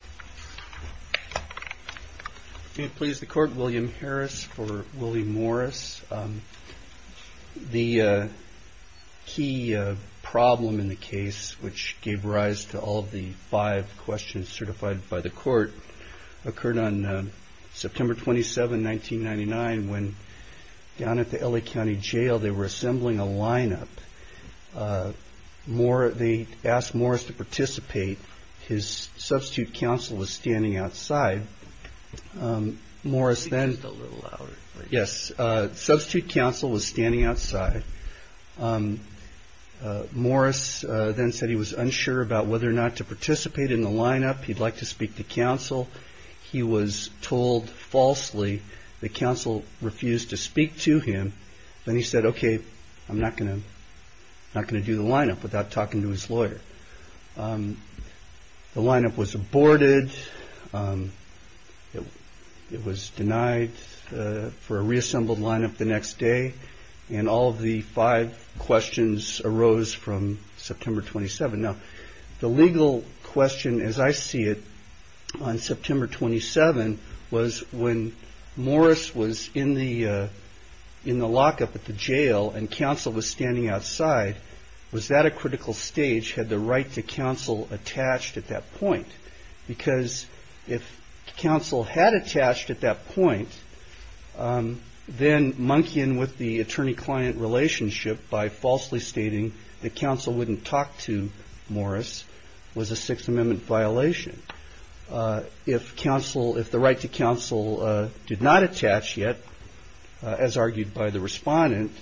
The key problem in the case which gave rise to all of the five questions certified by the court occurred on September 27, 1999 when down at the L.A. County Jail they were assembling a line-up. They asked Morris to participate. His substitute counsel was standing outside. Morris then said he was unsure about whether or not to participate in the line-up. He'd like to speak to counsel. He was told falsely that counsel refused to speak to him. Then he said he was not going to do the line-up without talking to his lawyer. The line-up was aborted. It was denied for a reassembled line-up the next day. All of the five questions arose from September 27. The legal question, as I see it, on September 27 was when Morris was in the lockup at the jail and counsel was standing outside, was that a critical stage? Had the right to counsel attached at that point? Because if counsel had attached at that point, then monkeying with the attorney-client relationship by falsely stating that counsel wouldn't talk to Morris was a Sixth Amendment violation. If the right to counsel did not attach yet, as argued by the respondent,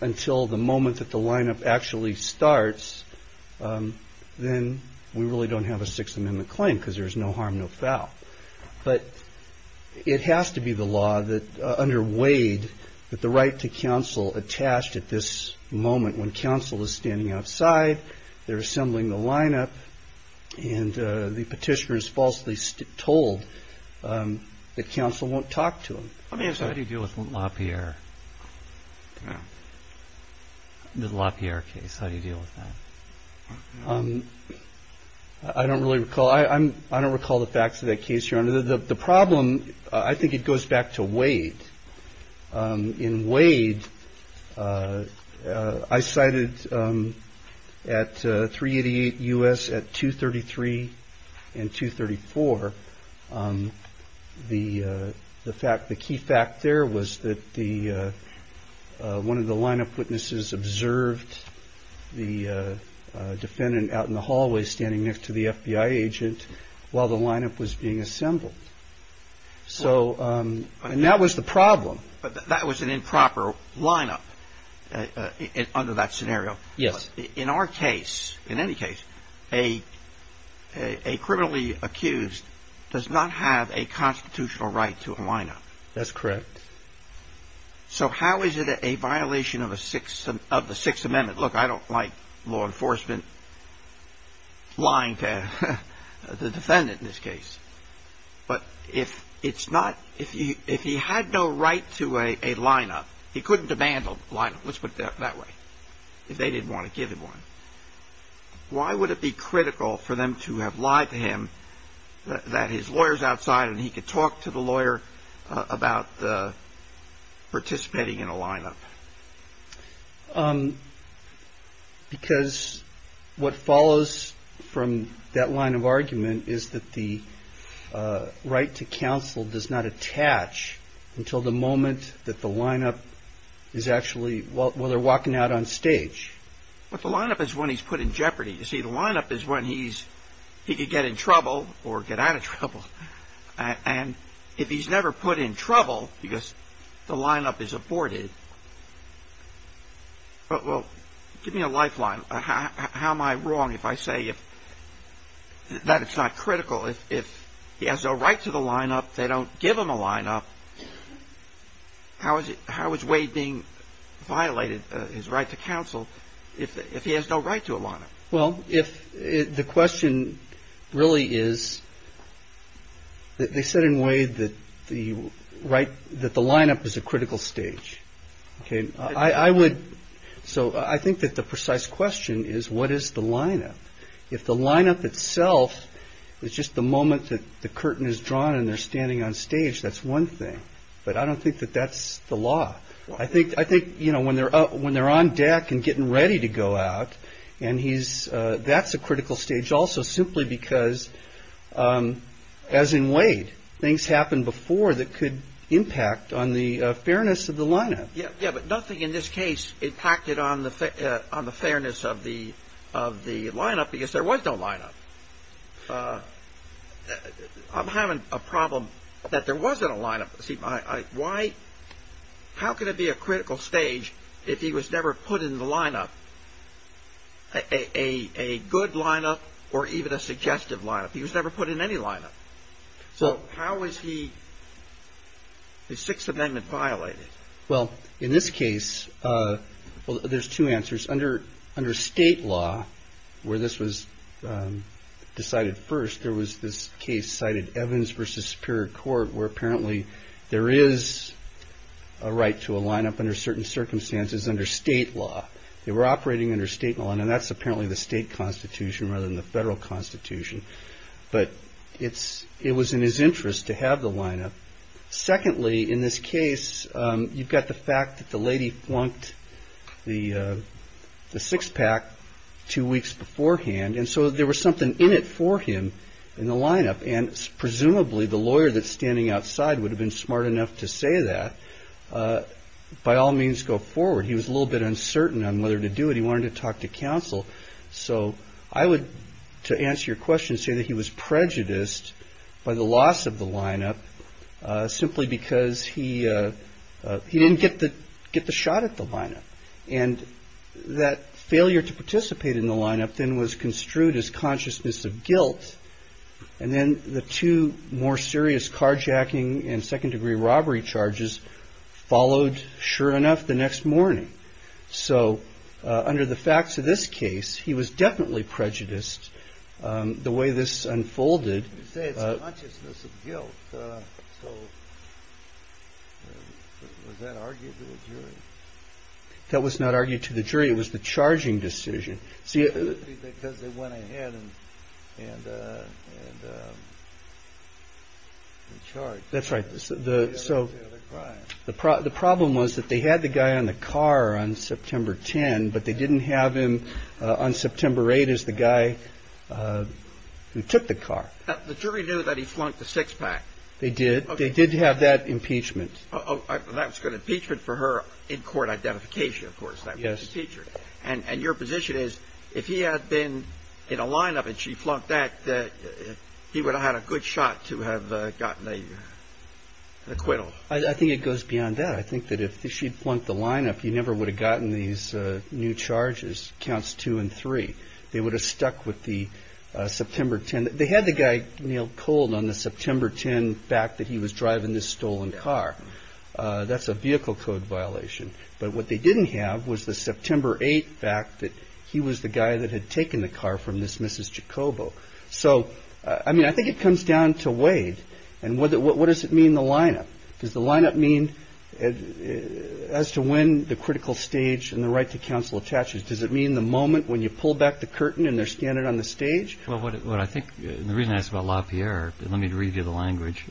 until the moment that the line-up actually starts, then we really don't have a Sixth Amendment claim because there's no harm, no foul. But it has to be the law under Wade that the right to counsel attached at this moment when counsel is standing outside, they're assembling the line-up, and the petitioner is falsely told that counsel won't talk to him. Let me ask you, how do you deal with LaPierre? The LaPierre case, how do you deal with that? I don't really recall. I don't recall the facts of that case, Your Honor. The problem, I think it goes back to Wade. In Wade, I cited at 388 U.S. at 233 and 234, the key fact there was that one of the line-up witnesses observed the defendant out in the hallway standing next to the FBI agent while the line-up was being assembled. And that was the problem. But that was an improper line-up under that scenario. Yes. In our case, in any case, a criminally accused does not have a constitutional right to a line-up. That's correct. So how is it a violation of the Sixth Amendment? Look, I don't like law enforcement lying to the defendant in this case. But if it's not, if he had no right to a line-up, he couldn't demand a line-up, let's put it that way, if they didn't want to give him one, why would it be critical for them to have lied to him that his lawyer's outside and he could talk to the lawyer about participating in a line-up? Because what follows from that line of argument is that the right to counsel does not attach until the moment that the line-up is actually, well, they're walking out on stage. But the line-up is when he's put in jeopardy. You see, the line-up is when he's, he could get in trouble or get out of trouble. And if he's never put in trouble because the line-up is aborted, well, give me a lifeline. How am I wrong if I say that it's not critical? If he has no right to the line-up, they don't give him a line-up, how is Wade being violated his right to counsel if he has no right to a line-up? Well, if the question really is, they said in Wade that the line-up is a critical stage. So I think that the precise question is, what is the line-up? If the line-up itself is just the moment that the curtain is drawn and they're standing on stage, that's one thing. But I don't think that that's the law. I think, you know, when they're on deck and getting ready to go out, and he's, that's a critical stage also simply because, as in Wade, things happened before that could impact on the fairness of the line-up. Yeah, but nothing in this case impacted on the fairness of the line-up because there was no line-up. I'm having a problem that there wasn't a line-up. See, why, how could there be a critical stage if he was never put in the line-up, a good line-up or even a suggestive line-up? He was never put in any line-up. So how is he, is Sixth Amendment violated? Well, in this case, there's two answers. Under state law, where this was decided first, there was this case cited, Evans v. Superior Court, where apparently there is a right to a line-up under certain circumstances under state law. They were operating under state law, and that's apparently the state constitution rather than the federal constitution. But it was in his interest to have the line-up. Secondly, in this case, you've got the fact that the lady flunked the six-pack two weeks beforehand, and so there was something in it for him in the line-up. And presumably, the lawyer that's standing outside would have been smart enough to say that. By all means, go forward. He was a little bit uncertain on whether to do it. He wanted to talk to counsel. So I would, to answer your question, say that he was prejudiced by the loss of the line-up simply because he didn't get the shot at the line-up. And that failure to participate in the line-up then was construed as consciousness of guilt. And then the two more serious carjacking and second-degree robbery charges followed, sure enough, the next morning. So under the facts of this case, he was definitely prejudiced the way this unfolded. You say it's consciousness of guilt. So was that argued to the jury? That was not argued to the jury. It was the charging decision. Because they went ahead and charged. That's right. So the problem was that they had the guy on the car on September 10, but they didn't have him on September 8 as the guy who took the car. The jury knew that he flunked the six-pack. They did. They did have that impeachment. That was going to be an impeachment for her in-court identification, of course. And your position is, if he had been in a line-up and she flunked that, he would have had a good shot to have gotten an acquittal. I think it goes beyond that. I think that if she'd flunked the line-up, he never would have gotten these new charges, counts two and three. They would have stuck with the September 10. They had the guy nailed cold on the September 10 fact that he was driving this stolen car. That's a vehicle code violation. But what they didn't have was the September 8 fact that he was the guy that had taken the car from this Mrs. Jacobo. So I mean, I think it comes down to weight. And what does it mean, the line-up? Does the line-up mean as to when the critical stage and the right to counsel attaches? Does it mean the moment when you pull back the curtain and they're scanned on the stage? Well, what I think, and the reason I ask about LaPierre, let me read you the language.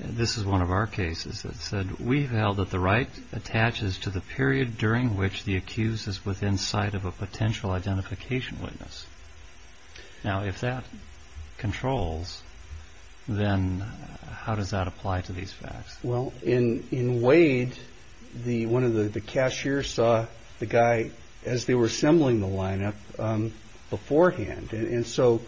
This is one of our cases that said, we've held that the right attaches to the period during which the accused is within sight of a potential identification witness. Now, if that controls, then how does that apply to these facts? Well, in Wade, one of the cashiers saw the guy as they were assembling the line-up beforehand. And so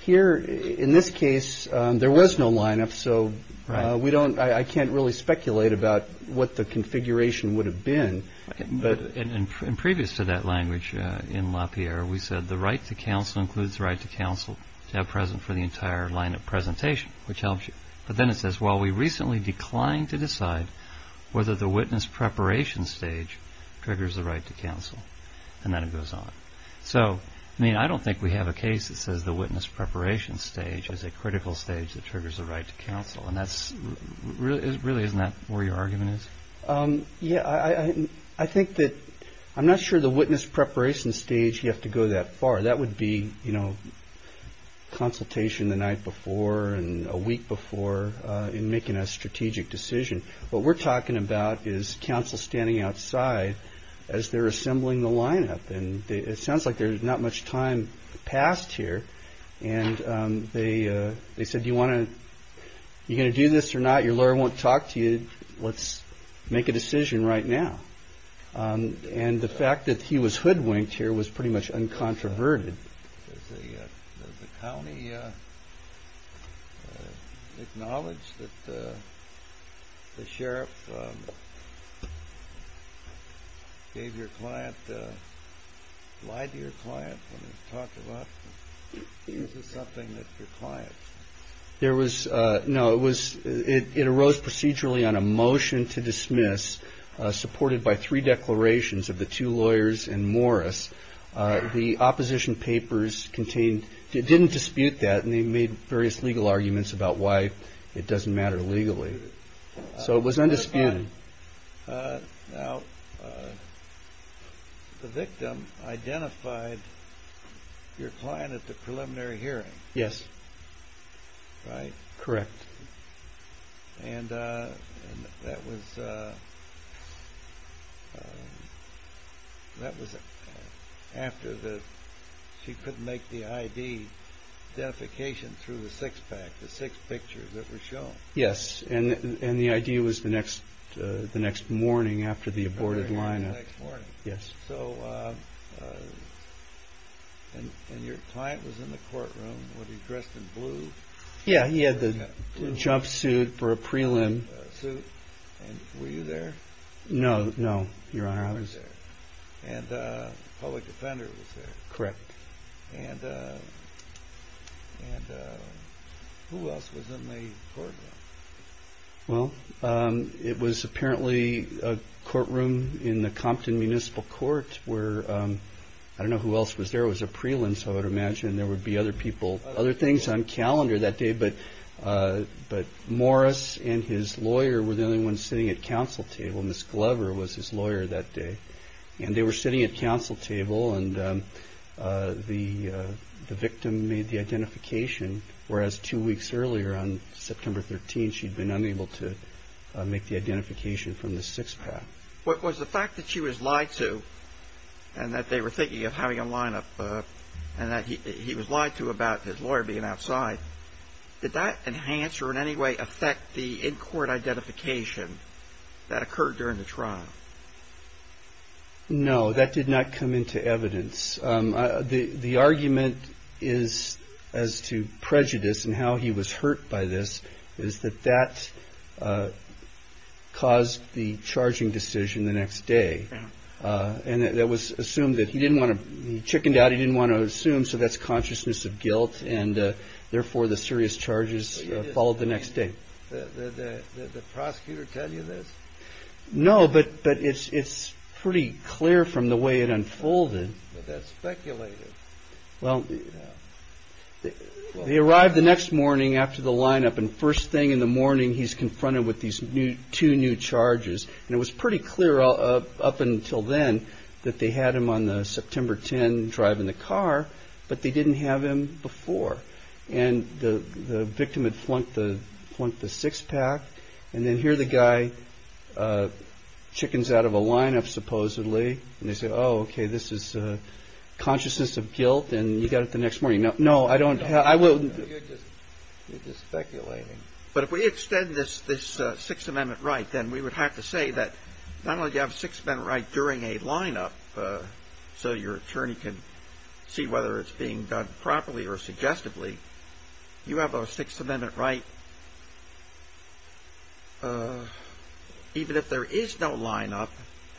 here, in this case, there was no line-up. So I can't really speculate about what the configuration would have been. But in previous to that language in LaPierre, we said the right to counsel includes the right to counsel to have present for the entire line-up presentation, which helps you. But then it says, well, we recently declined to decide whether the witness preparation stage triggers the right to counsel. And then it goes on. So I mean, I don't think we have a case that says the witness preparation stage is a critical stage that triggers the right to counsel. And really, isn't that where your argument is? Yeah, I think that I'm not sure the witness preparation stage, you have to go that far. That would be consultation the night before and a week before in making a strategic decision. What we're talking about is counsel standing outside as they're assembling the line-up. And it sounds like there's not much time passed here. And they said, you're going to do this or not? Your lawyer won't talk to you. Let's make a decision right now. And the fact that he was hoodwinked here was pretty much uncontroverted. Does the county acknowledge that the sheriff gave your client, lied to your client when he talked about them? Is this something that your client... No, it arose procedurally on a motion to dismiss supported by three declarations of the two lawyers and Morris. The opposition papers didn't dispute that. And they made various legal arguments about why it doesn't matter legally. So it was undisputed. Now, the victim identified your client at the preliminary hearing. Yes. Right. Correct. And that was after she couldn't make the ID identification through the six-pack, the six pictures that were shown. Yes, and the ID was the next morning after the aborted line-up. Yes. So when your client was in the courtroom, was he dressed in blue? Yeah, he had the jumpsuit for a prelim. Were you there? No, no. Your Honor, I was there. And a public defender was there? Correct. And who else was in the courtroom? Well, it was apparently a courtroom in the Compton Municipal Court where, I don't know who else was there. It was a prelim, so I would imagine there would be other people, other things on calendar that day. But Morris and his lawyer were the only ones sitting at counsel table. Ms. Glover was his lawyer that day, and they were sitting at counsel table. And the victim made the identification, whereas two weeks earlier, on September 13, she'd been unable to make the identification from the six-pack. What was the fact that she was lied to and that they were thinking of having a line-up and that he was lied to about his lawyer being outside, did that enhance or in any way affect the in-court identification that occurred during the trial? No. That did not come into evidence. The argument is as to prejudice and how he was hurt by this is that that caused the charging decision the next day. And it was assumed that he didn't want to be chickened out. He didn't want to assume. So that's consciousness of guilt. And therefore, the serious charges followed the next day. Did the prosecutor tell you this? No, but it's pretty clear from the way it unfolded that speculated. Well, they arrived the next morning after the lineup and first thing in the morning, he's confronted with these two new charges. And it was pretty clear up until then that they had him on the September 10 drive in the car, but they didn't have him before. And the victim had flunked the six pack. And then here the guy chickens out of a lineup, supposedly. And they said, oh, OK, this is consciousness of guilt. And you got it the next morning. No, no, I don't. I wouldn't be speculating. But if we extend this, this Sixth Amendment right, then we would have to say that not only do you have a Sixth Amendment right during a lineup, so your attorney can see whether it's being done properly or suggestively, you have a Sixth Amendment right. Even if there is no lineup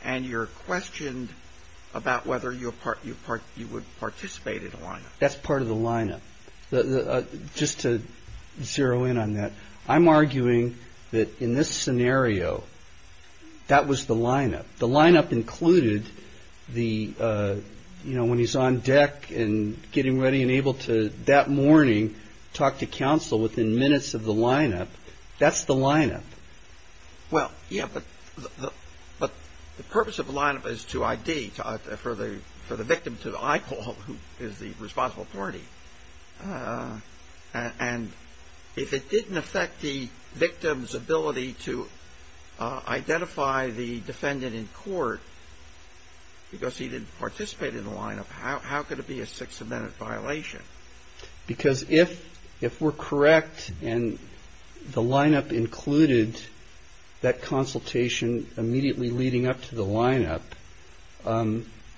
and you're questioned about whether you're part, you part, you would participate in a lineup. That's part of the lineup. Just to zero in on that. I'm arguing that in this scenario, that was the lineup. The lineup included the, you know, when he's on deck and getting ready and able to that morning talk to counsel within minutes of the lineup. That's the lineup. Well, yeah, but the purpose of the lineup is to ID for the for the victim to the IPOL, who is the responsible party. And if it didn't affect the victim's ability to identify the defendant in court because he didn't participate in the lineup. How could it be a Sixth Amendment violation? Because if if we're correct and the lineup included that consultation immediately leading up to the lineup,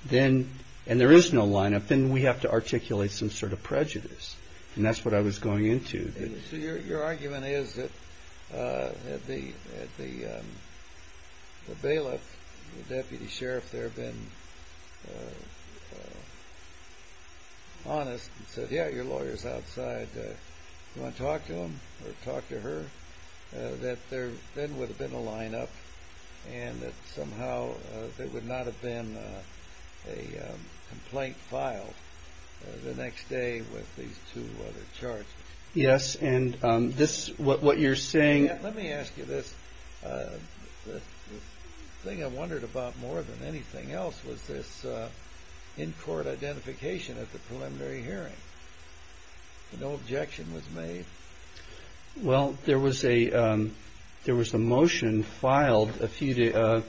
then and there is no lineup, then we have to articulate some sort of prejudice. And that's what I was going into. So your argument is that the bailiff, the deputy sheriff, there have been honest and said, yeah, your lawyer's outside. You want to talk to him or talk to her that there then would have been a lineup and that somehow there would not have been a complaint filed the next day with these two other charges. Yes. And this what you're saying. Let me ask you this. The thing I wondered about more than anything else was this in-court identification at the preliminary hearing. No objection was made. Well, there was a there was a motion filed a few days.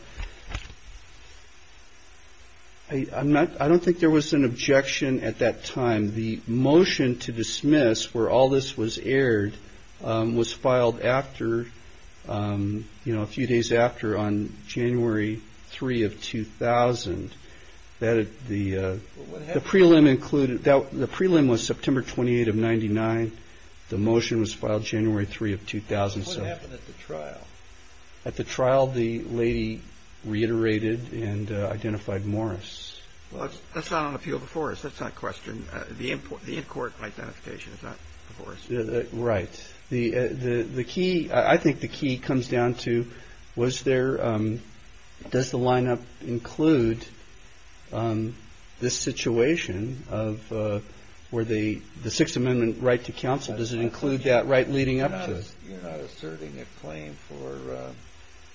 I'm not I don't think there was an objection at that time. The motion to dismiss where all this was aired was filed after, you know, a few days after on January three of 2000. That the prelim included that the prelim was September twenty eight of ninety nine. The motion was filed January three of 2000. So what happened at the trial? At the trial, the lady reiterated and identified Morris. Well, that's not on the field before us. That's not a question. The input, the in-court identification is not right. Right. The the the key. I think the key comes down to was there. Does the lineup include this situation of where the the Sixth Amendment right to counsel? Does it include that right leading up to a certain claim for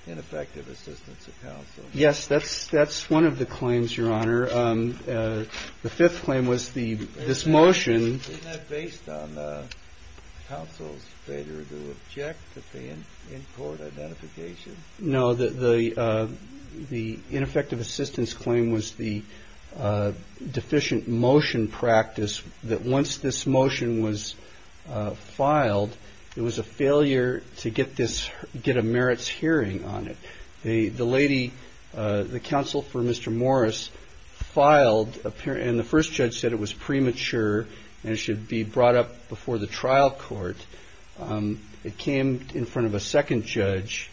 ineffective assistance of counsel? Yes, that's that's one of the claims, your honor. The fifth claim was the this motion based on the counsel's failure to object to the in-court identification. No, the the the ineffective assistance claim was the deficient motion practice that once this motion was filed, it was a failure to get this get a merits hearing on it. The lady, the counsel for Mr. Morris filed up here and the first judge said it was premature and it should be brought up before the trial court. It came in front of a second judge,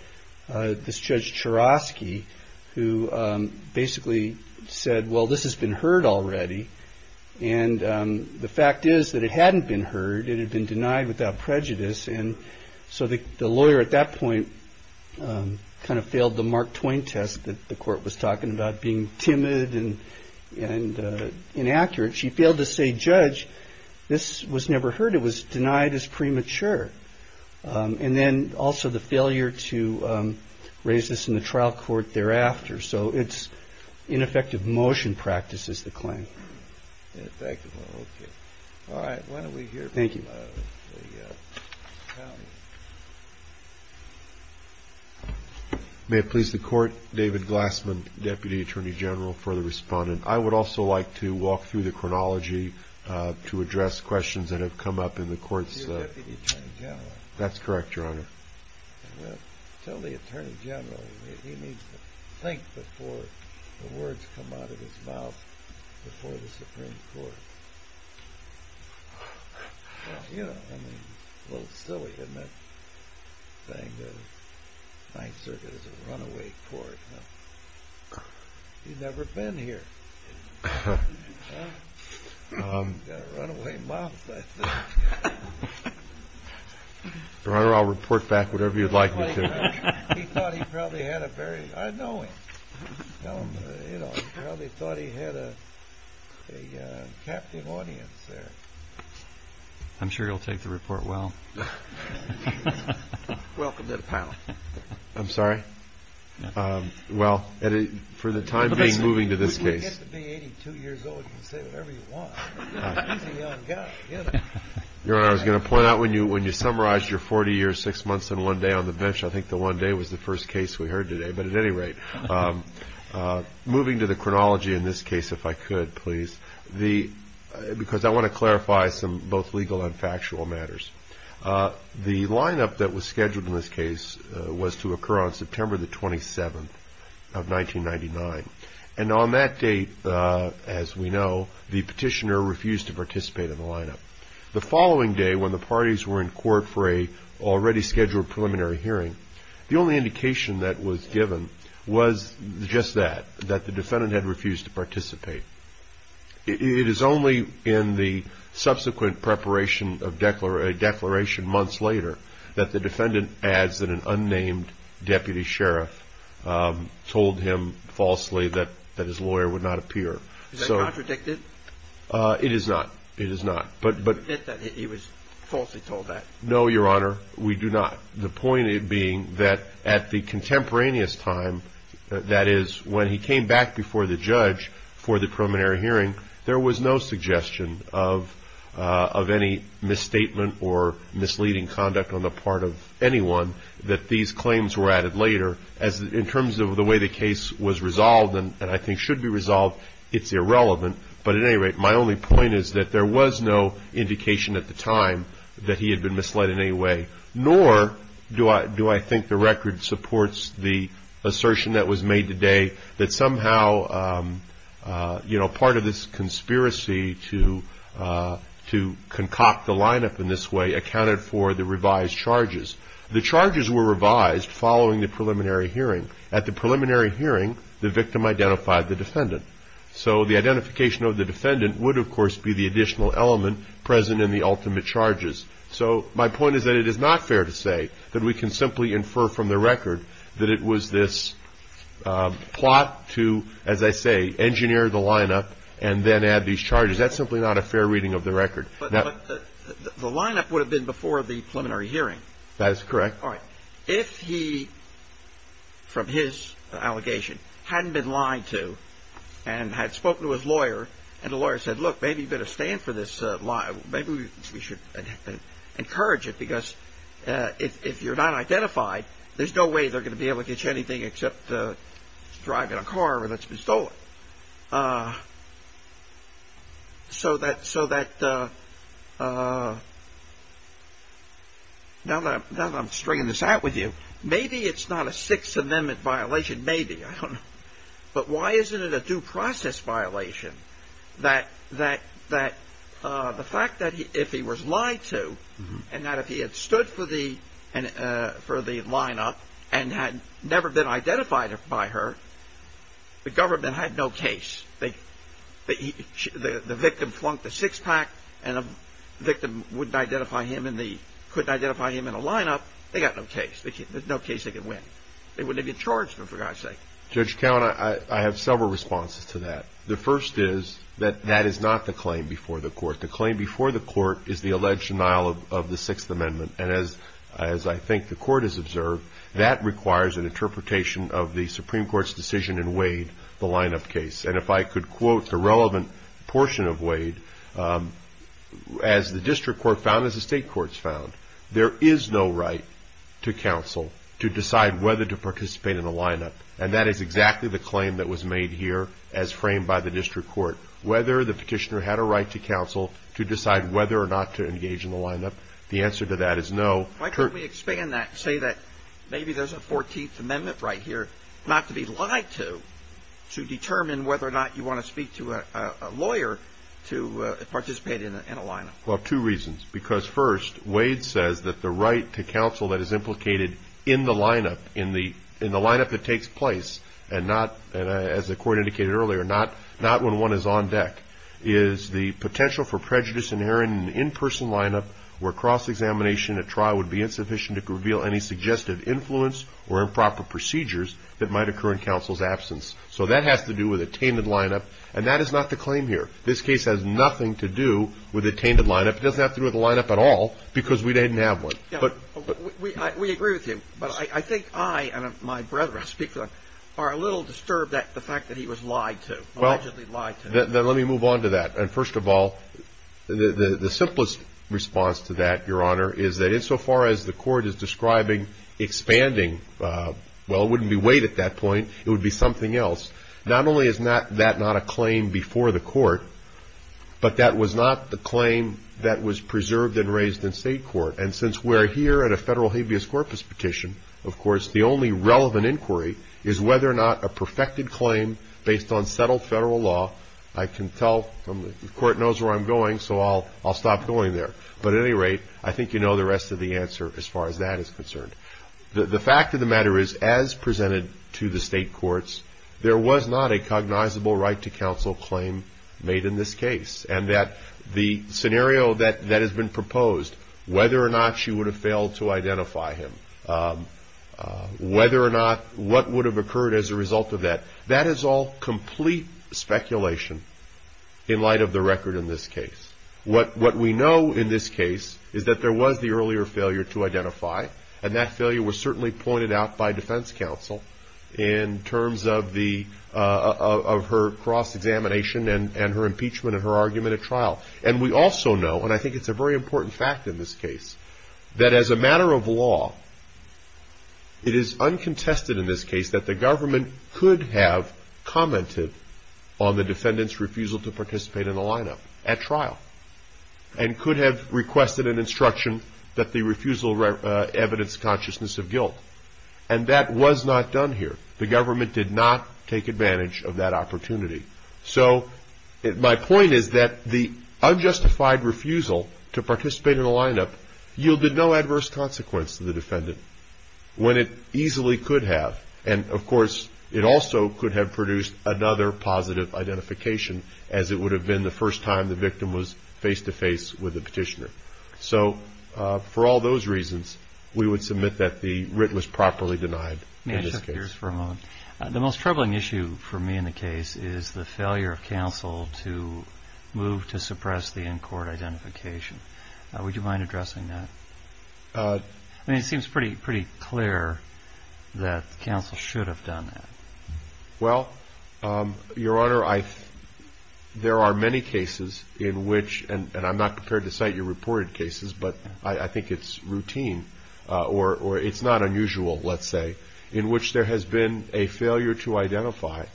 this judge Cherovsky, who basically said, well, this has been heard already. And the fact is that it hadn't been heard. It had been denied without prejudice. And so the lawyer at that point kind of failed the Mark Twain test that the court was talking about being timid and inaccurate. She failed to say, judge, this was never heard. It was denied as premature. And then also the failure to raise this in the trial court thereafter. So it's ineffective motion practices. Is the claim effective? All right. When are we here? Thank you. May it please the court. David Glassman, deputy attorney general for the respondent. I would also like to walk through the chronology to address questions that have come up in the courts. That's correct. Your honor. Tell the attorney general he needs to think before the words come out of his mouth before the Supreme Court. You know, I mean, well, still, we admit saying the Ninth Circuit is a runaway court. You've never been here. Run away. Well, I'll report back whatever you'd like. He thought he probably had a very knowing, you know, probably thought he had a captive audience there. I'm sure you'll take the report. Well, welcome to the panel. I'm sorry. Well, for the time being, moving to this case, to be 82 years old, you can say whatever you want. Your honor, I was going to point out when you when you summarize your 40 years, six months and one day on the bench, I think the one day was the first case we heard today. But at any rate, moving to the chronology in this case, if I could please the because I want to clarify some both legal and factual matters. The lineup that was scheduled in this case was to occur on September the 27th of 1999. And on that date, as we know, the petitioner refused to participate in the lineup. The following day, when the parties were in court for a already scheduled preliminary hearing, the only indication that was given was just that, that the defendant had refused to participate. It is only in the subsequent preparation of a declaration months later that the defendant adds that an unnamed deputy sheriff told him falsely that that his lawyer would not appear. So it is not. It is not. But but it was falsely told that. No, your honor, we do not. The point being that at the contemporaneous time, that is when he came back before the judge for the preliminary hearing, there was no suggestion of of any misstatement or misleading conduct on the part of anyone that these claims were added later. As in terms of the way the case was resolved and I think should be resolved, it's irrelevant. But at any rate, my only point is that there was no indication at the time that he had been misled in any way, nor do I do I think the record supports the assertion that was made today that somehow, you know, part of this conspiracy to to concoct the lineup in this way accounted for the revised charges. The charges were revised following the preliminary hearing. At the preliminary hearing, the victim identified the defendant. So the identification of the defendant would, of course, be the additional element present in the ultimate charges. So my point is that it is not fair to say that we can simply infer from the record that it was this plot to, as I say, engineer the lineup and then add these charges. That's simply not a fair reading of the record. But the lineup would have been before the preliminary hearing. That's correct. All right. If he from his allegation hadn't been lied to and had spoken to his lawyer and the lawyer said, look, maybe you better stand for this. Maybe we should encourage it, because if you're not identified, there's no way they're going to be able to get you anything except to drive in a car that's been stolen. So that so that now that I'm stringing this out with you, maybe it's not a Sixth Amendment violation. Maybe. I don't know. But why isn't it a due process violation that that that the fact that if he was lied to and that if he had stood for the and for the lineup and had never been identified by her, the government had no case that the victim flunked the six pack and a victim wouldn't identify him and they couldn't identify him in a lineup. They got no case. There's no case they could win. They wouldn't have been charged for God's sake. Judge Count, I have several responses to that. The first is that that is not the claim before the court. The claim before the court is the alleged denial of the Sixth Amendment. And as as I think the court has observed, that requires an interpretation of the Supreme Court's decision in Wade, the lineup case. And if I could quote the relevant portion of Wade, as the district court found, as the state courts found, there is no right to counsel to decide whether to participate in a lineup. And that is exactly the claim that was made here as framed by the district court, whether the petitioner had a right to counsel to decide whether or not to engage in the lineup. The answer to that is no. Why can't we expand that and say that maybe there's a 14th Amendment right here, not to be lied to, to determine whether or not you want to speak to a lawyer to participate in a lineup? Well, two reasons. Because first, Wade says that the right to counsel that is implicated in the lineup, in the lineup that takes place and not, as the court indicated earlier, not when one is on deck, is the potential for prejudice inherent in an in-person lineup where cross-examination at trial would be insufficient to reveal any suggestive influence or improper procedures that might occur in counsel's absence. So that has to do with a tainted lineup. And that is not the claim here. This case has nothing to do with a tainted lineup. It doesn't have to do with a lineup at all because we didn't have one. Yeah, we agree with you. But I think I and my brother, I speak for them, are a little disturbed at the fact that he was lied to, allegedly lied to. Then let me move on to that. And first of all, the simplest response to that, Your Honor, is that insofar as the court is describing expanding, well, it wouldn't be Wade at that point, it would be something else. Not only is that not a claim before the court, but that was not the claim that was preserved and raised in state court. And since we're here at a federal habeas corpus petition, of course, the only relevant inquiry is whether or not a perfected claim based on settled federal law. I can tell from the court knows where I'm going, so I'll stop going there. But at any rate, I think you know the rest of the answer as far as that is concerned. The fact of the matter is, as presented to the state courts, there was not a cognizable right to counsel claim made in this case. And that the scenario that has been proposed, whether or not she would have failed to identify him, whether or not what would have occurred as a result of that, that is all complete speculation in light of the record in this case. What we know in this case is that there was the earlier failure to identify, and that failure was certainly pointed out by defense counsel in terms of her cross-examination and her impeachment and her argument at trial. And we also know, and I think it's a very important fact in this case, that as a matter of law, it is uncontested in this case that the government could have commented on the defendant's refusal to participate in the lineup at trial, and could have requested an instruction that the refusal evidenced consciousness of guilt. And that was not done here. The government did not take advantage of that opportunity. So my point is that the unjustified refusal to participate in the lineup yielded no adverse consequence to the defendant when it easily could have. And of course, it also could have produced another positive identification as it would have been the first time the victim was face-to-face with the petitioner. So for all those reasons, we would submit that the writ was properly denied in this case. The most troubling issue for me in the case is the failure of counsel to move to suppress the in-court identification. Would you mind addressing that? I mean, it seems pretty clear that counsel should have done that. Well, Your Honor, there are many cases in which, and I'm not prepared to cite your reported cases, but I think it's routine, or it's not unusual, let's say, in which there has been a failure to identify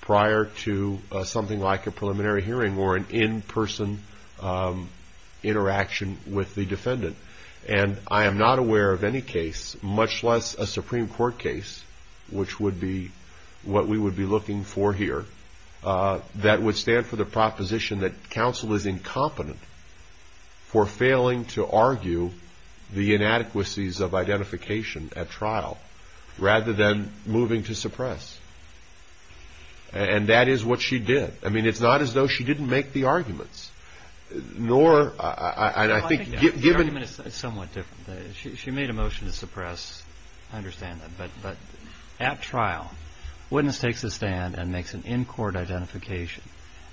prior to something like a preliminary hearing or an in-person interaction with the defendant. And I am not aware of any case, much less a Supreme Court case, which would be what we would be looking for here, that would stand for the proposition that counsel is incompetent for failing to argue the inadequacies of identification at trial rather than moving to suppress. And that is what she did. I mean, it's not as though she didn't make the arguments. Nor, and I think, given the- Well, I think the argument is somewhat different. She made a motion to suppress, I understand that. But at trial, a witness takes a stand and makes an in-court identification.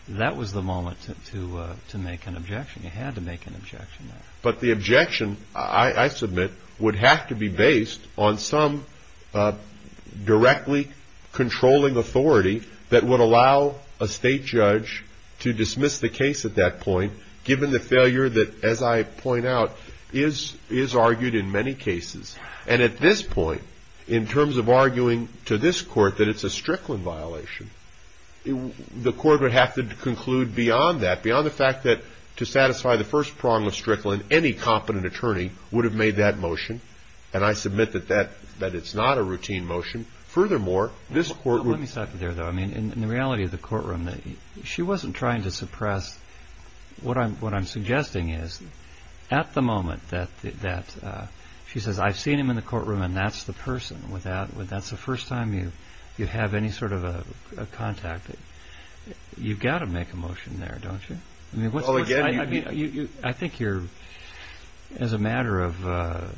That was the moment to make an objection. You had to make an objection there. But the objection, I submit, would have to be based on some directly controlling authority that would allow a state judge to dismiss the case at that point, given the failure that, as I point out, is argued in many cases. And at this point, in terms of arguing to this court that it's a Strickland violation, the court would have to conclude beyond that, beyond the fact that, to satisfy the first prong of Strickland, any competent attorney would have made that motion. And I submit that that, that it's not a routine motion. Furthermore, this court would- Let me stop you there, though. I mean, in the reality of the courtroom, she wasn't trying to suppress. What I'm, what I'm suggesting is, at the moment that, that, she says, I've seen him in the courtroom and that's the person without, that's the first time you, you have any sort of a contact, you've got to make a motion there, don't you? I mean, what's- Well, again, you- I think you're, as a matter of,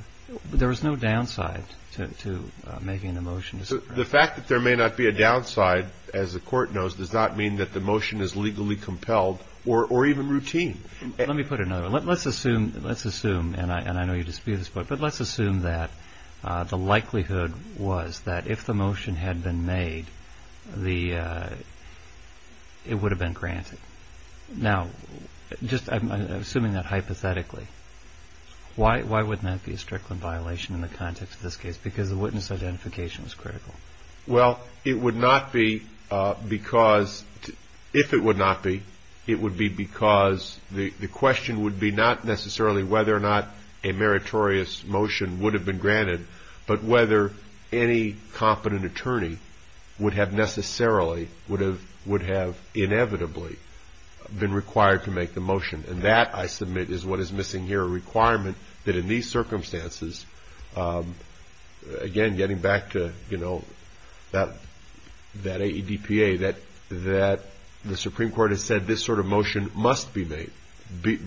there was no downside to, to making a motion to suppress. The fact that there may not be a downside, as the court knows, does not mean that the motion is legally compelled or, or even routine. Let me put it another way. Let's assume, let's assume, and I, and I know you dispute this, but, but let's assume that the likelihood was that if the motion had been made, the, it would have been granted. Now, just, I'm assuming that hypothetically. Why, why wouldn't that be a Strickland violation in the context of this case? Because the witness identification was critical. Well, it would not be because, if it would not be, it would be because the, the question would be not necessarily whether or not a meritorious motion would have been granted, but whether any competent attorney would have necessarily, would have, would have inevitably been required to make the motion. And that, I submit, is what is missing here, a requirement that in these circumstances, again, getting back to, you know, that, that AEDPA, that, that the Supreme Court has said this sort of motion must be made.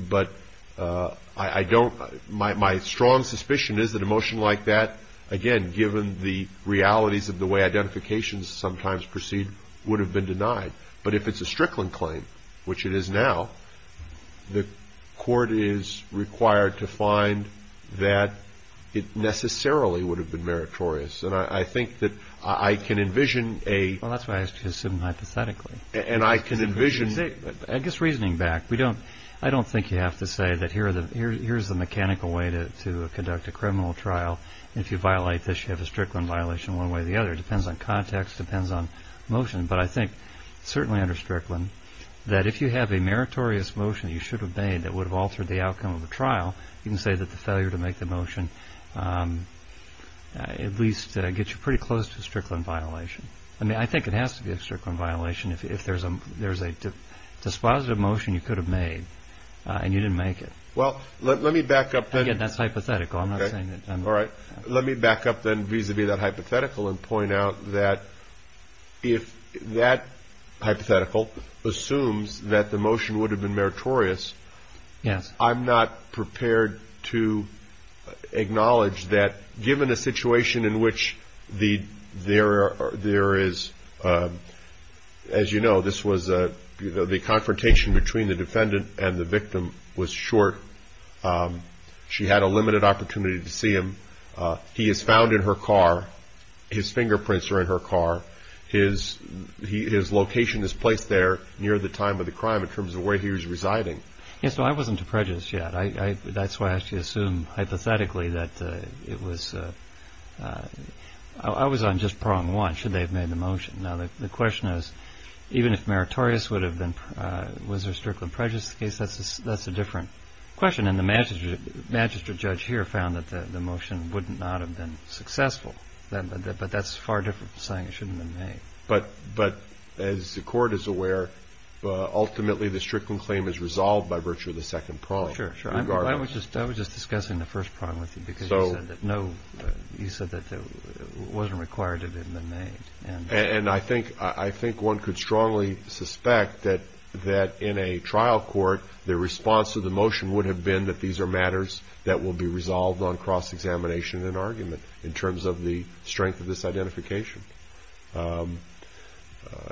But I don't, my, my strong suspicion is that a motion like that, again, given the realities of the way identifications sometimes proceed, would have been denied. But if it's a Strickland claim, which it is now, the court is required to find that it necessarily would have been meritorious. And I, I think that I can envision a. Well, that's why I asked you to assume hypothetically. And I can envision. See, I guess reasoning back, we don't, I don't think you have to say that here are the, here, here's the mechanical way to, to conduct a criminal trial. If you violate this, you have a Strickland violation one way or the other. It depends on context, depends on motion. But I think, certainly under Strickland, that if you have a meritorious motion that you should have made that would have altered the outcome of a trial, you can say that the failure to make the motion at least gets you pretty close to a Strickland violation. I mean, I think it has to be a Strickland violation if there's a, there's a dispositive motion you could have made and you didn't make it. Well, let, let me back up. Again, that's hypothetical. I'm not saying that. All right. Let me back up then vis-a-vis that hypothetical and point out that if that hypothetical assumes that the motion would have been meritorious. Yes. I'm not prepared to acknowledge that given a situation in which the, there, there is, as you know, this was a, you know, the confrontation between the defendant and the victim was short. She had a limited opportunity to see him. He is found in her car. His fingerprints are in her car. His, his location is placed there near the time of the crime in terms of where he was residing. Yes. So I wasn't too prejudiced yet. I, I, that's why I actually assume hypothetically that it was, I was on just prong one. Should they have made the motion? Now, the question is, even if meritorious would have been, was there a Strickland prejudice case? That's a, that's a different question. And the Manchester, Manchester judge here found that the motion would not have been successful then, but that's far different saying it shouldn't have been made. But, but as the court is aware, ultimately the Strickland claim is resolved by virtue of the second prong. Sure. Sure. I was just, I was just discussing the first prong with you because you said that no, you said that it wasn't required to have been made. And, and I think, I think one could strongly suspect that, that in a trial court, the response to the motion would have been that these are matters that will be resolved on cross-examination and argument in terms of the strength of this identification.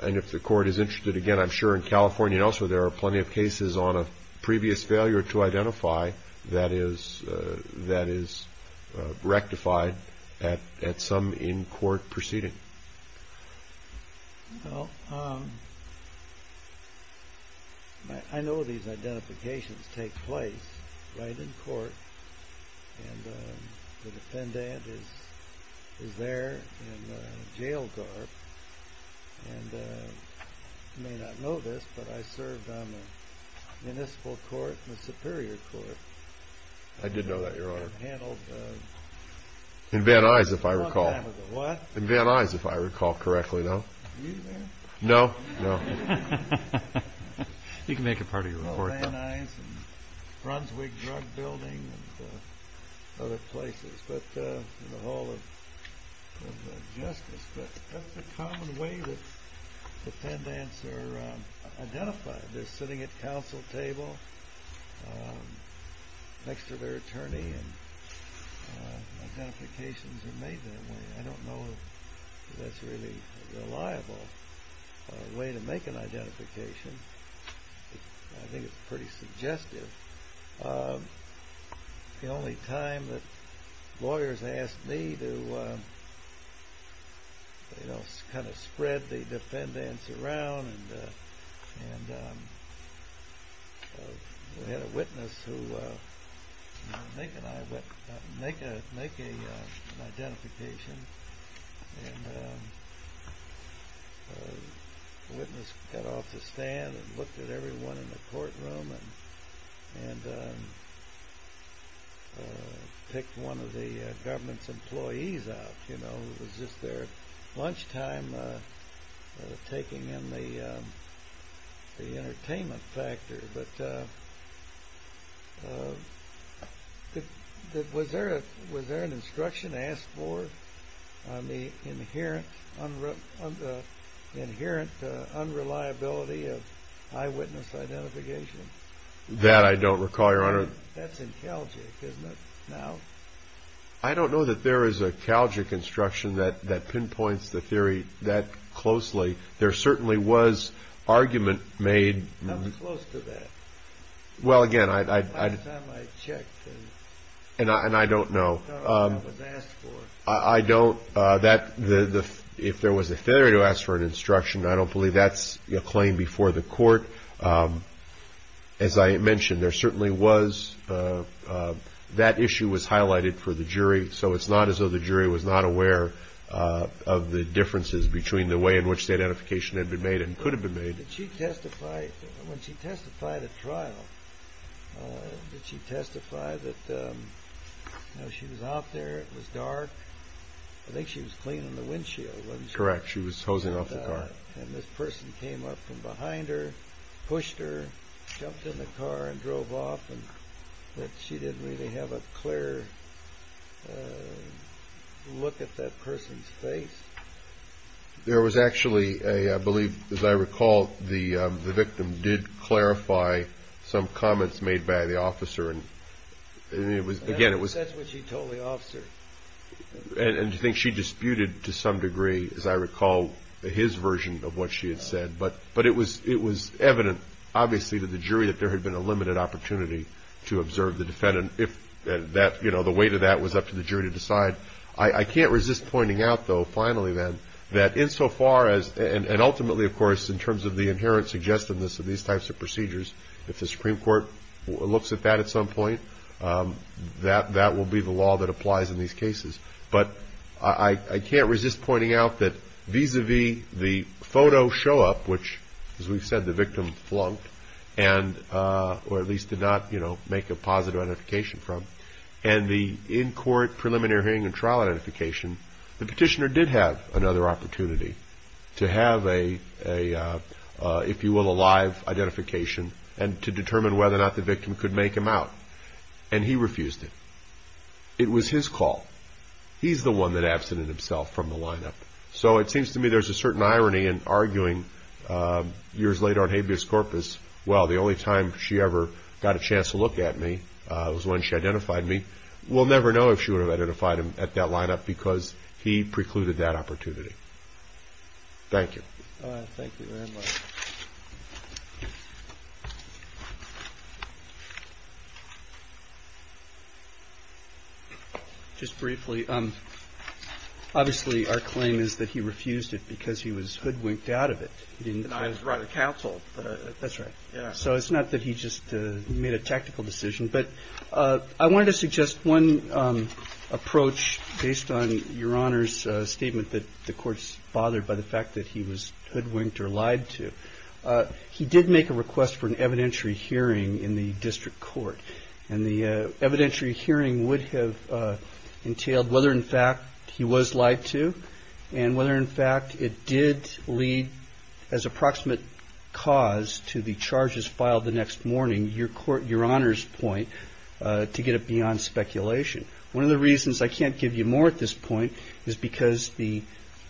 And if the court is interested, again, I'm sure in California and elsewhere, there are plenty of cases on a previous failure to identify that is, that is rectified at, at some in court proceeding. Well, I know these identifications take place right in court and the defendant is, is there in a jail garb and you may not know this, but I served on the municipal court and the superior court. I did know that, your honor. And handled the... In Van Nuys, if I recall. What? In Van Nuys, if I recall correctly. No, no, no. You can make it part of your report. Van Nuys and Brunswick Drug Building and other places, but in the Hall of Justice, but that's a common way that defendants are identified. They're sitting at counsel table next to their attorney and identifications are made that way. I don't know if that's a really reliable way to make an identification. I think it's pretty suggestive. The only time that lawyers asked me to, you know, kind of spread the defendants around and, and we had a witness who make an, make a, make a, an identification. And the witness got off the stand and looked at everyone in the courtroom and, and picked one of the government's employees out, you know, it was just their lunchtime taking in the, the entertainment factor. But was there, was there an instruction asked for on the inherent unreliability of eyewitness identification? That I don't recall, Your Honor. That's in Calgic, isn't it, now? I don't know that there is a Calgic instruction that, that pinpoints the theory that closely. There certainly was argument made. How close to that? Well, again, I, I, I, and I, and I don't know, I don't, that the, the, if there was a failure to ask for an instruction, I don't believe that's a claim before the court. As I mentioned, there certainly was, that issue was highlighted for the jury. So it's not as though the jury was not aware of the differences between the way in which the identification had been made and could have been made. Did she testify, when she testified at trial, did she testify that, you know, she was out there, it was dark, I think she was cleaning the windshield, wasn't she? Correct, she was hosing up the car. And this person came up from behind her, pushed her, jumped in the car and drove off, and that she didn't really have a clear look at that person's face? There was actually a, I believe, as I recall, the, the victim did clarify some comments made by the officer and, and it was, again, it was, and, and I think she disputed to some degree, as I recall, his version of what she had said, but, but it was, it was evident, obviously, to the jury that there had been a limited opportunity to observe the defendant if that, you know, the weight of that was up to the jury to decide. I, I can't resist pointing out, though, finally, then, that insofar as, and, and ultimately, of course, in terms of the inherent suggestiveness of these types of procedures, if the Supreme Court looks at that at some point, that, that will be the law that applies in these cases. But I, I can't resist pointing out that vis-a-vis the photo show-up, which, as we've said, the victim flunked and, or at least did not, you know, make a positive identification from, and the in-court preliminary hearing and trial identification, the petitioner did have another opportunity to have a, a, if you will, a live identification and to determine whether or not the victim could make him out, and he refused it. It was his call. He's the one that absented himself from the lineup. So it seems to me there's a certain irony in arguing years later on habeas corpus, well, the only time she ever got a chance to look at me was when she identified me. We'll never know if she would have identified him at that lineup because he precluded that opportunity. Thank you. All right. Thank you very much. Just briefly, obviously, our claim is that he refused it because he was hoodwinked out of it. He didn't deny his right of counsel. That's right. So it's not that he just made a tactical decision, but I wanted to suggest one approach based on your Honor's statement that the court's bothered by the fact that he was hoodwinked or lied to. He did make a request for an evidentiary hearing in the district court. And the evidentiary hearing would have entailed whether, in fact, he was lied to and whether, in fact, it did lead as approximate cause to the charges filed the next morning, your Honor's point, to get it beyond speculation. One of the reasons I can't give you more at this point is because the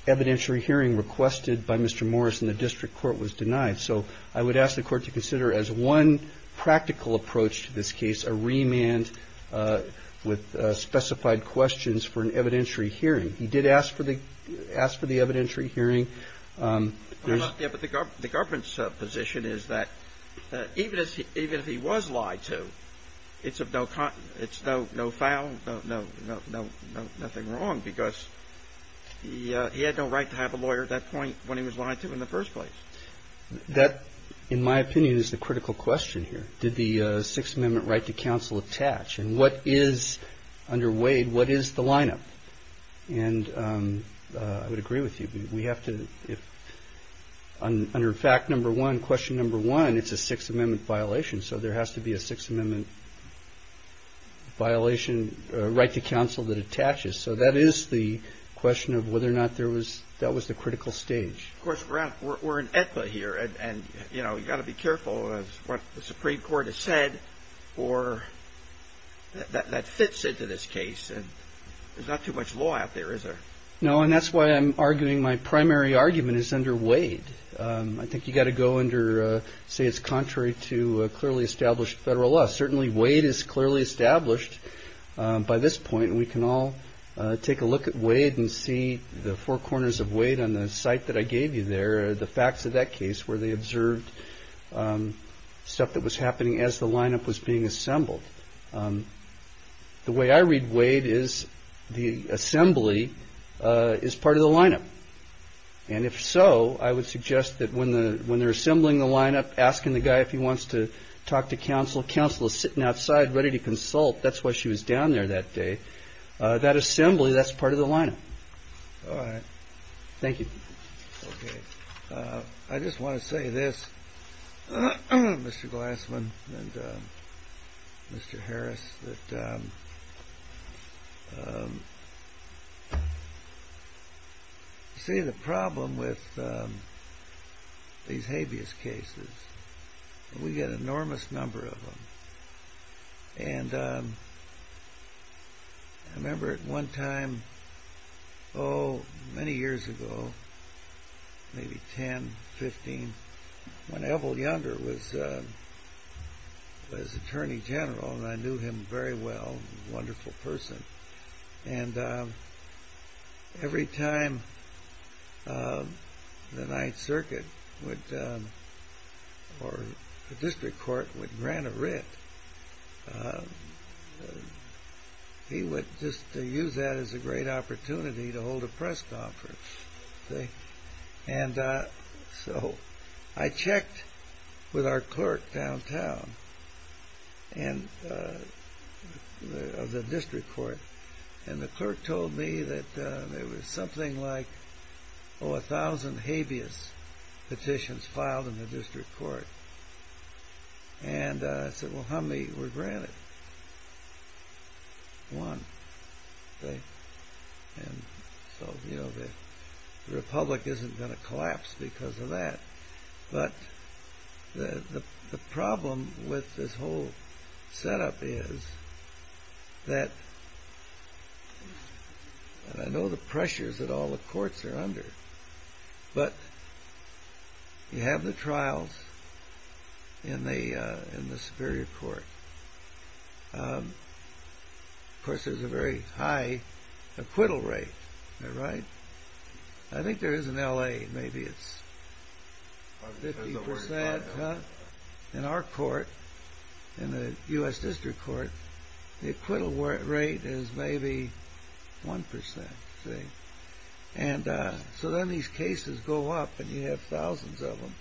evidentiary hearing requested by Mr. Morris in the district court was denied. So I would ask the court to consider, as one practical approach to this case, a remand with specified questions for an evidentiary hearing. He did ask for the evidentiary hearing. The government's position is that even if he was lied to, it's no foul, nothing wrong, because he had no right to have a lawyer at that point when he was lied to in the first place. That, in my opinion, is the critical question here. Did the Sixth Amendment right to counsel attach? And what is, under Wade, what is the lineup? And I would agree with you. We have to, under fact number one, question number one, it's a Sixth Amendment violation. So there has to be a Sixth Amendment violation right to counsel that attaches. So that is the question of whether or not that was the critical stage. Of course, we're in Aetna here and, you know, you've got to be careful of what the Supreme Court has said or that fits into this case. And there's not too much law out there, is there? No, and that's why I'm arguing my primary argument is under Wade. I think you've got to go under, say, it's contrary to clearly established federal law. Certainly Wade is clearly established by this point. We can all take a look at Wade and see the four corners of Wade on the site that I gave you there, the facts of that case where they observed stuff that was happening as the lineup was being assembled. The way I read Wade is the assembly is part of the lineup. And if so, I would suggest that when they're assembling the lineup, asking the guy if he wants to talk to counsel, counsel is sitting outside ready to consult. That's why she was down there that day. That assembly, that's part of the lineup. All right. Thank you. I just want to say this, Mr. Glassman and Mr. Harris, that you see the problem with these habeas cases, we get an enormous number of them. And I remember at one time, oh, many years ago, maybe 10, 15, when Evel Younger was attorney general, and I knew him very well, wonderful person. And every time the Ninth Circuit or the district court would grant a writ, he would just use that as a great opportunity to hold a press conference. And so I checked with our clerk downtown, the district court, and the clerk told me that there was something like, oh, a thousand habeas petitions filed in the district court. And I said, well, how many were granted? And he said, one. And so, you know, the republic isn't going to collapse because of that. But the problem with this whole setup is that I know the pressures that all the courts are under, but you have the trials in the Superior Court. Of course, there's a very high acquittal rate, right? I think there is in L.A. Maybe it's 50 percent. In our court, in the U.S. District Court, the acquittal rate is maybe 1 percent. And so then these cases go up and you have thousands of them.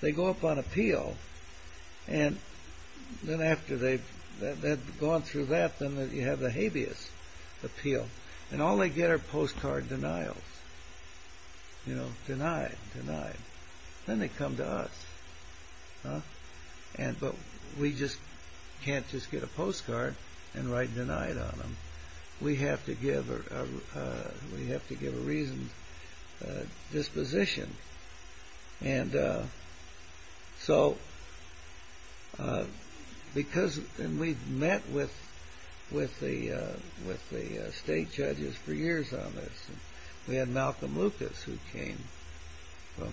They go up on appeal. And then after they've gone through that, then you have the habeas appeal. And all they get are postcard denials, you know, denied, denied. Then they come to us. But we just can't just get a postcard and write denied on them. We have to give a reasoned disposition. And so, because we've met with the state judges for years on this, and we had Malcolm Lucas who came from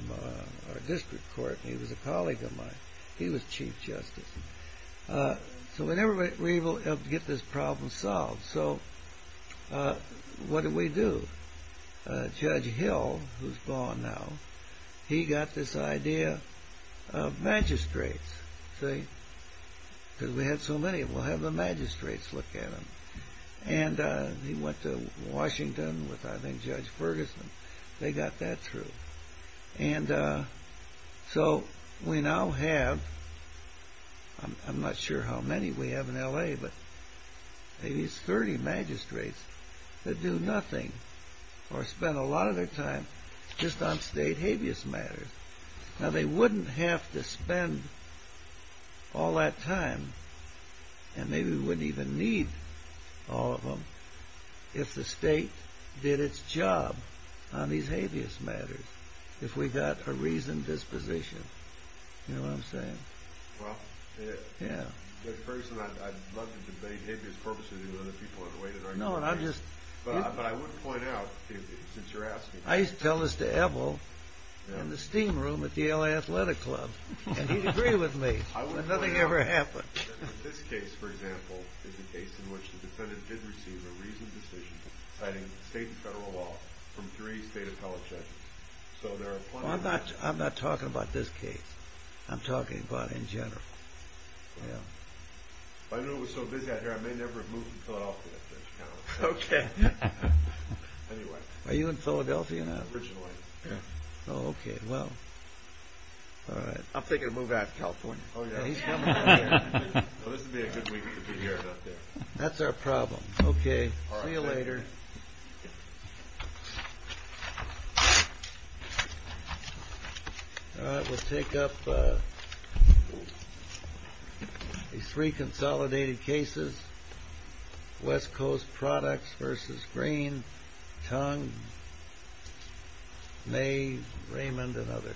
our district court, and he was a colleague of mine. He was chief justice. So we never were able to get this problem solved. So what do we do? Judge Hill, who's gone now, he got this idea of magistrates, see, because we had so many. We'll have the magistrates look at them. And he went to Washington with, I think, Judge Ferguson. They got that through. And so we now have, I'm not sure how many we have in L.A., but maybe it's 30 magistrates that do nothing. Or spend a lot of their time just on state habeas matters. Now, they wouldn't have to spend all that time, and maybe we wouldn't even need all of them, if the state did its job on these habeas matters. If we got a reasoned disposition. You know what I'm saying? Well, Judge Ferguson, I'd love to debate habeas purposes with other people on the way that I'm doing this, but I would point out since you're asking. I used to tell this to Evel in the steam room at the L.A. Athletic Club, and he'd agree with me, but nothing ever happened. This case, for example, is a case in which the defendant did receive a reasoned disposition citing state and federal law from three state appellate judges. So there are plenty of... I'm not talking about this case. I'm talking about in general. I know it was so busy out here, I may never have moved from Philadelphia. Okay. Are you in Philadelphia now? Originally. Okay. Well, all right. I'm thinking of moving out of California. Oh, yeah. And he's coming out again. Well, this would be a good week if he cares out there. That's our problem. Okay. All right. See you later. All right, we'll take up these three consolidated cases, West Coast Products versus Green, Tong, May, Raymond, and others.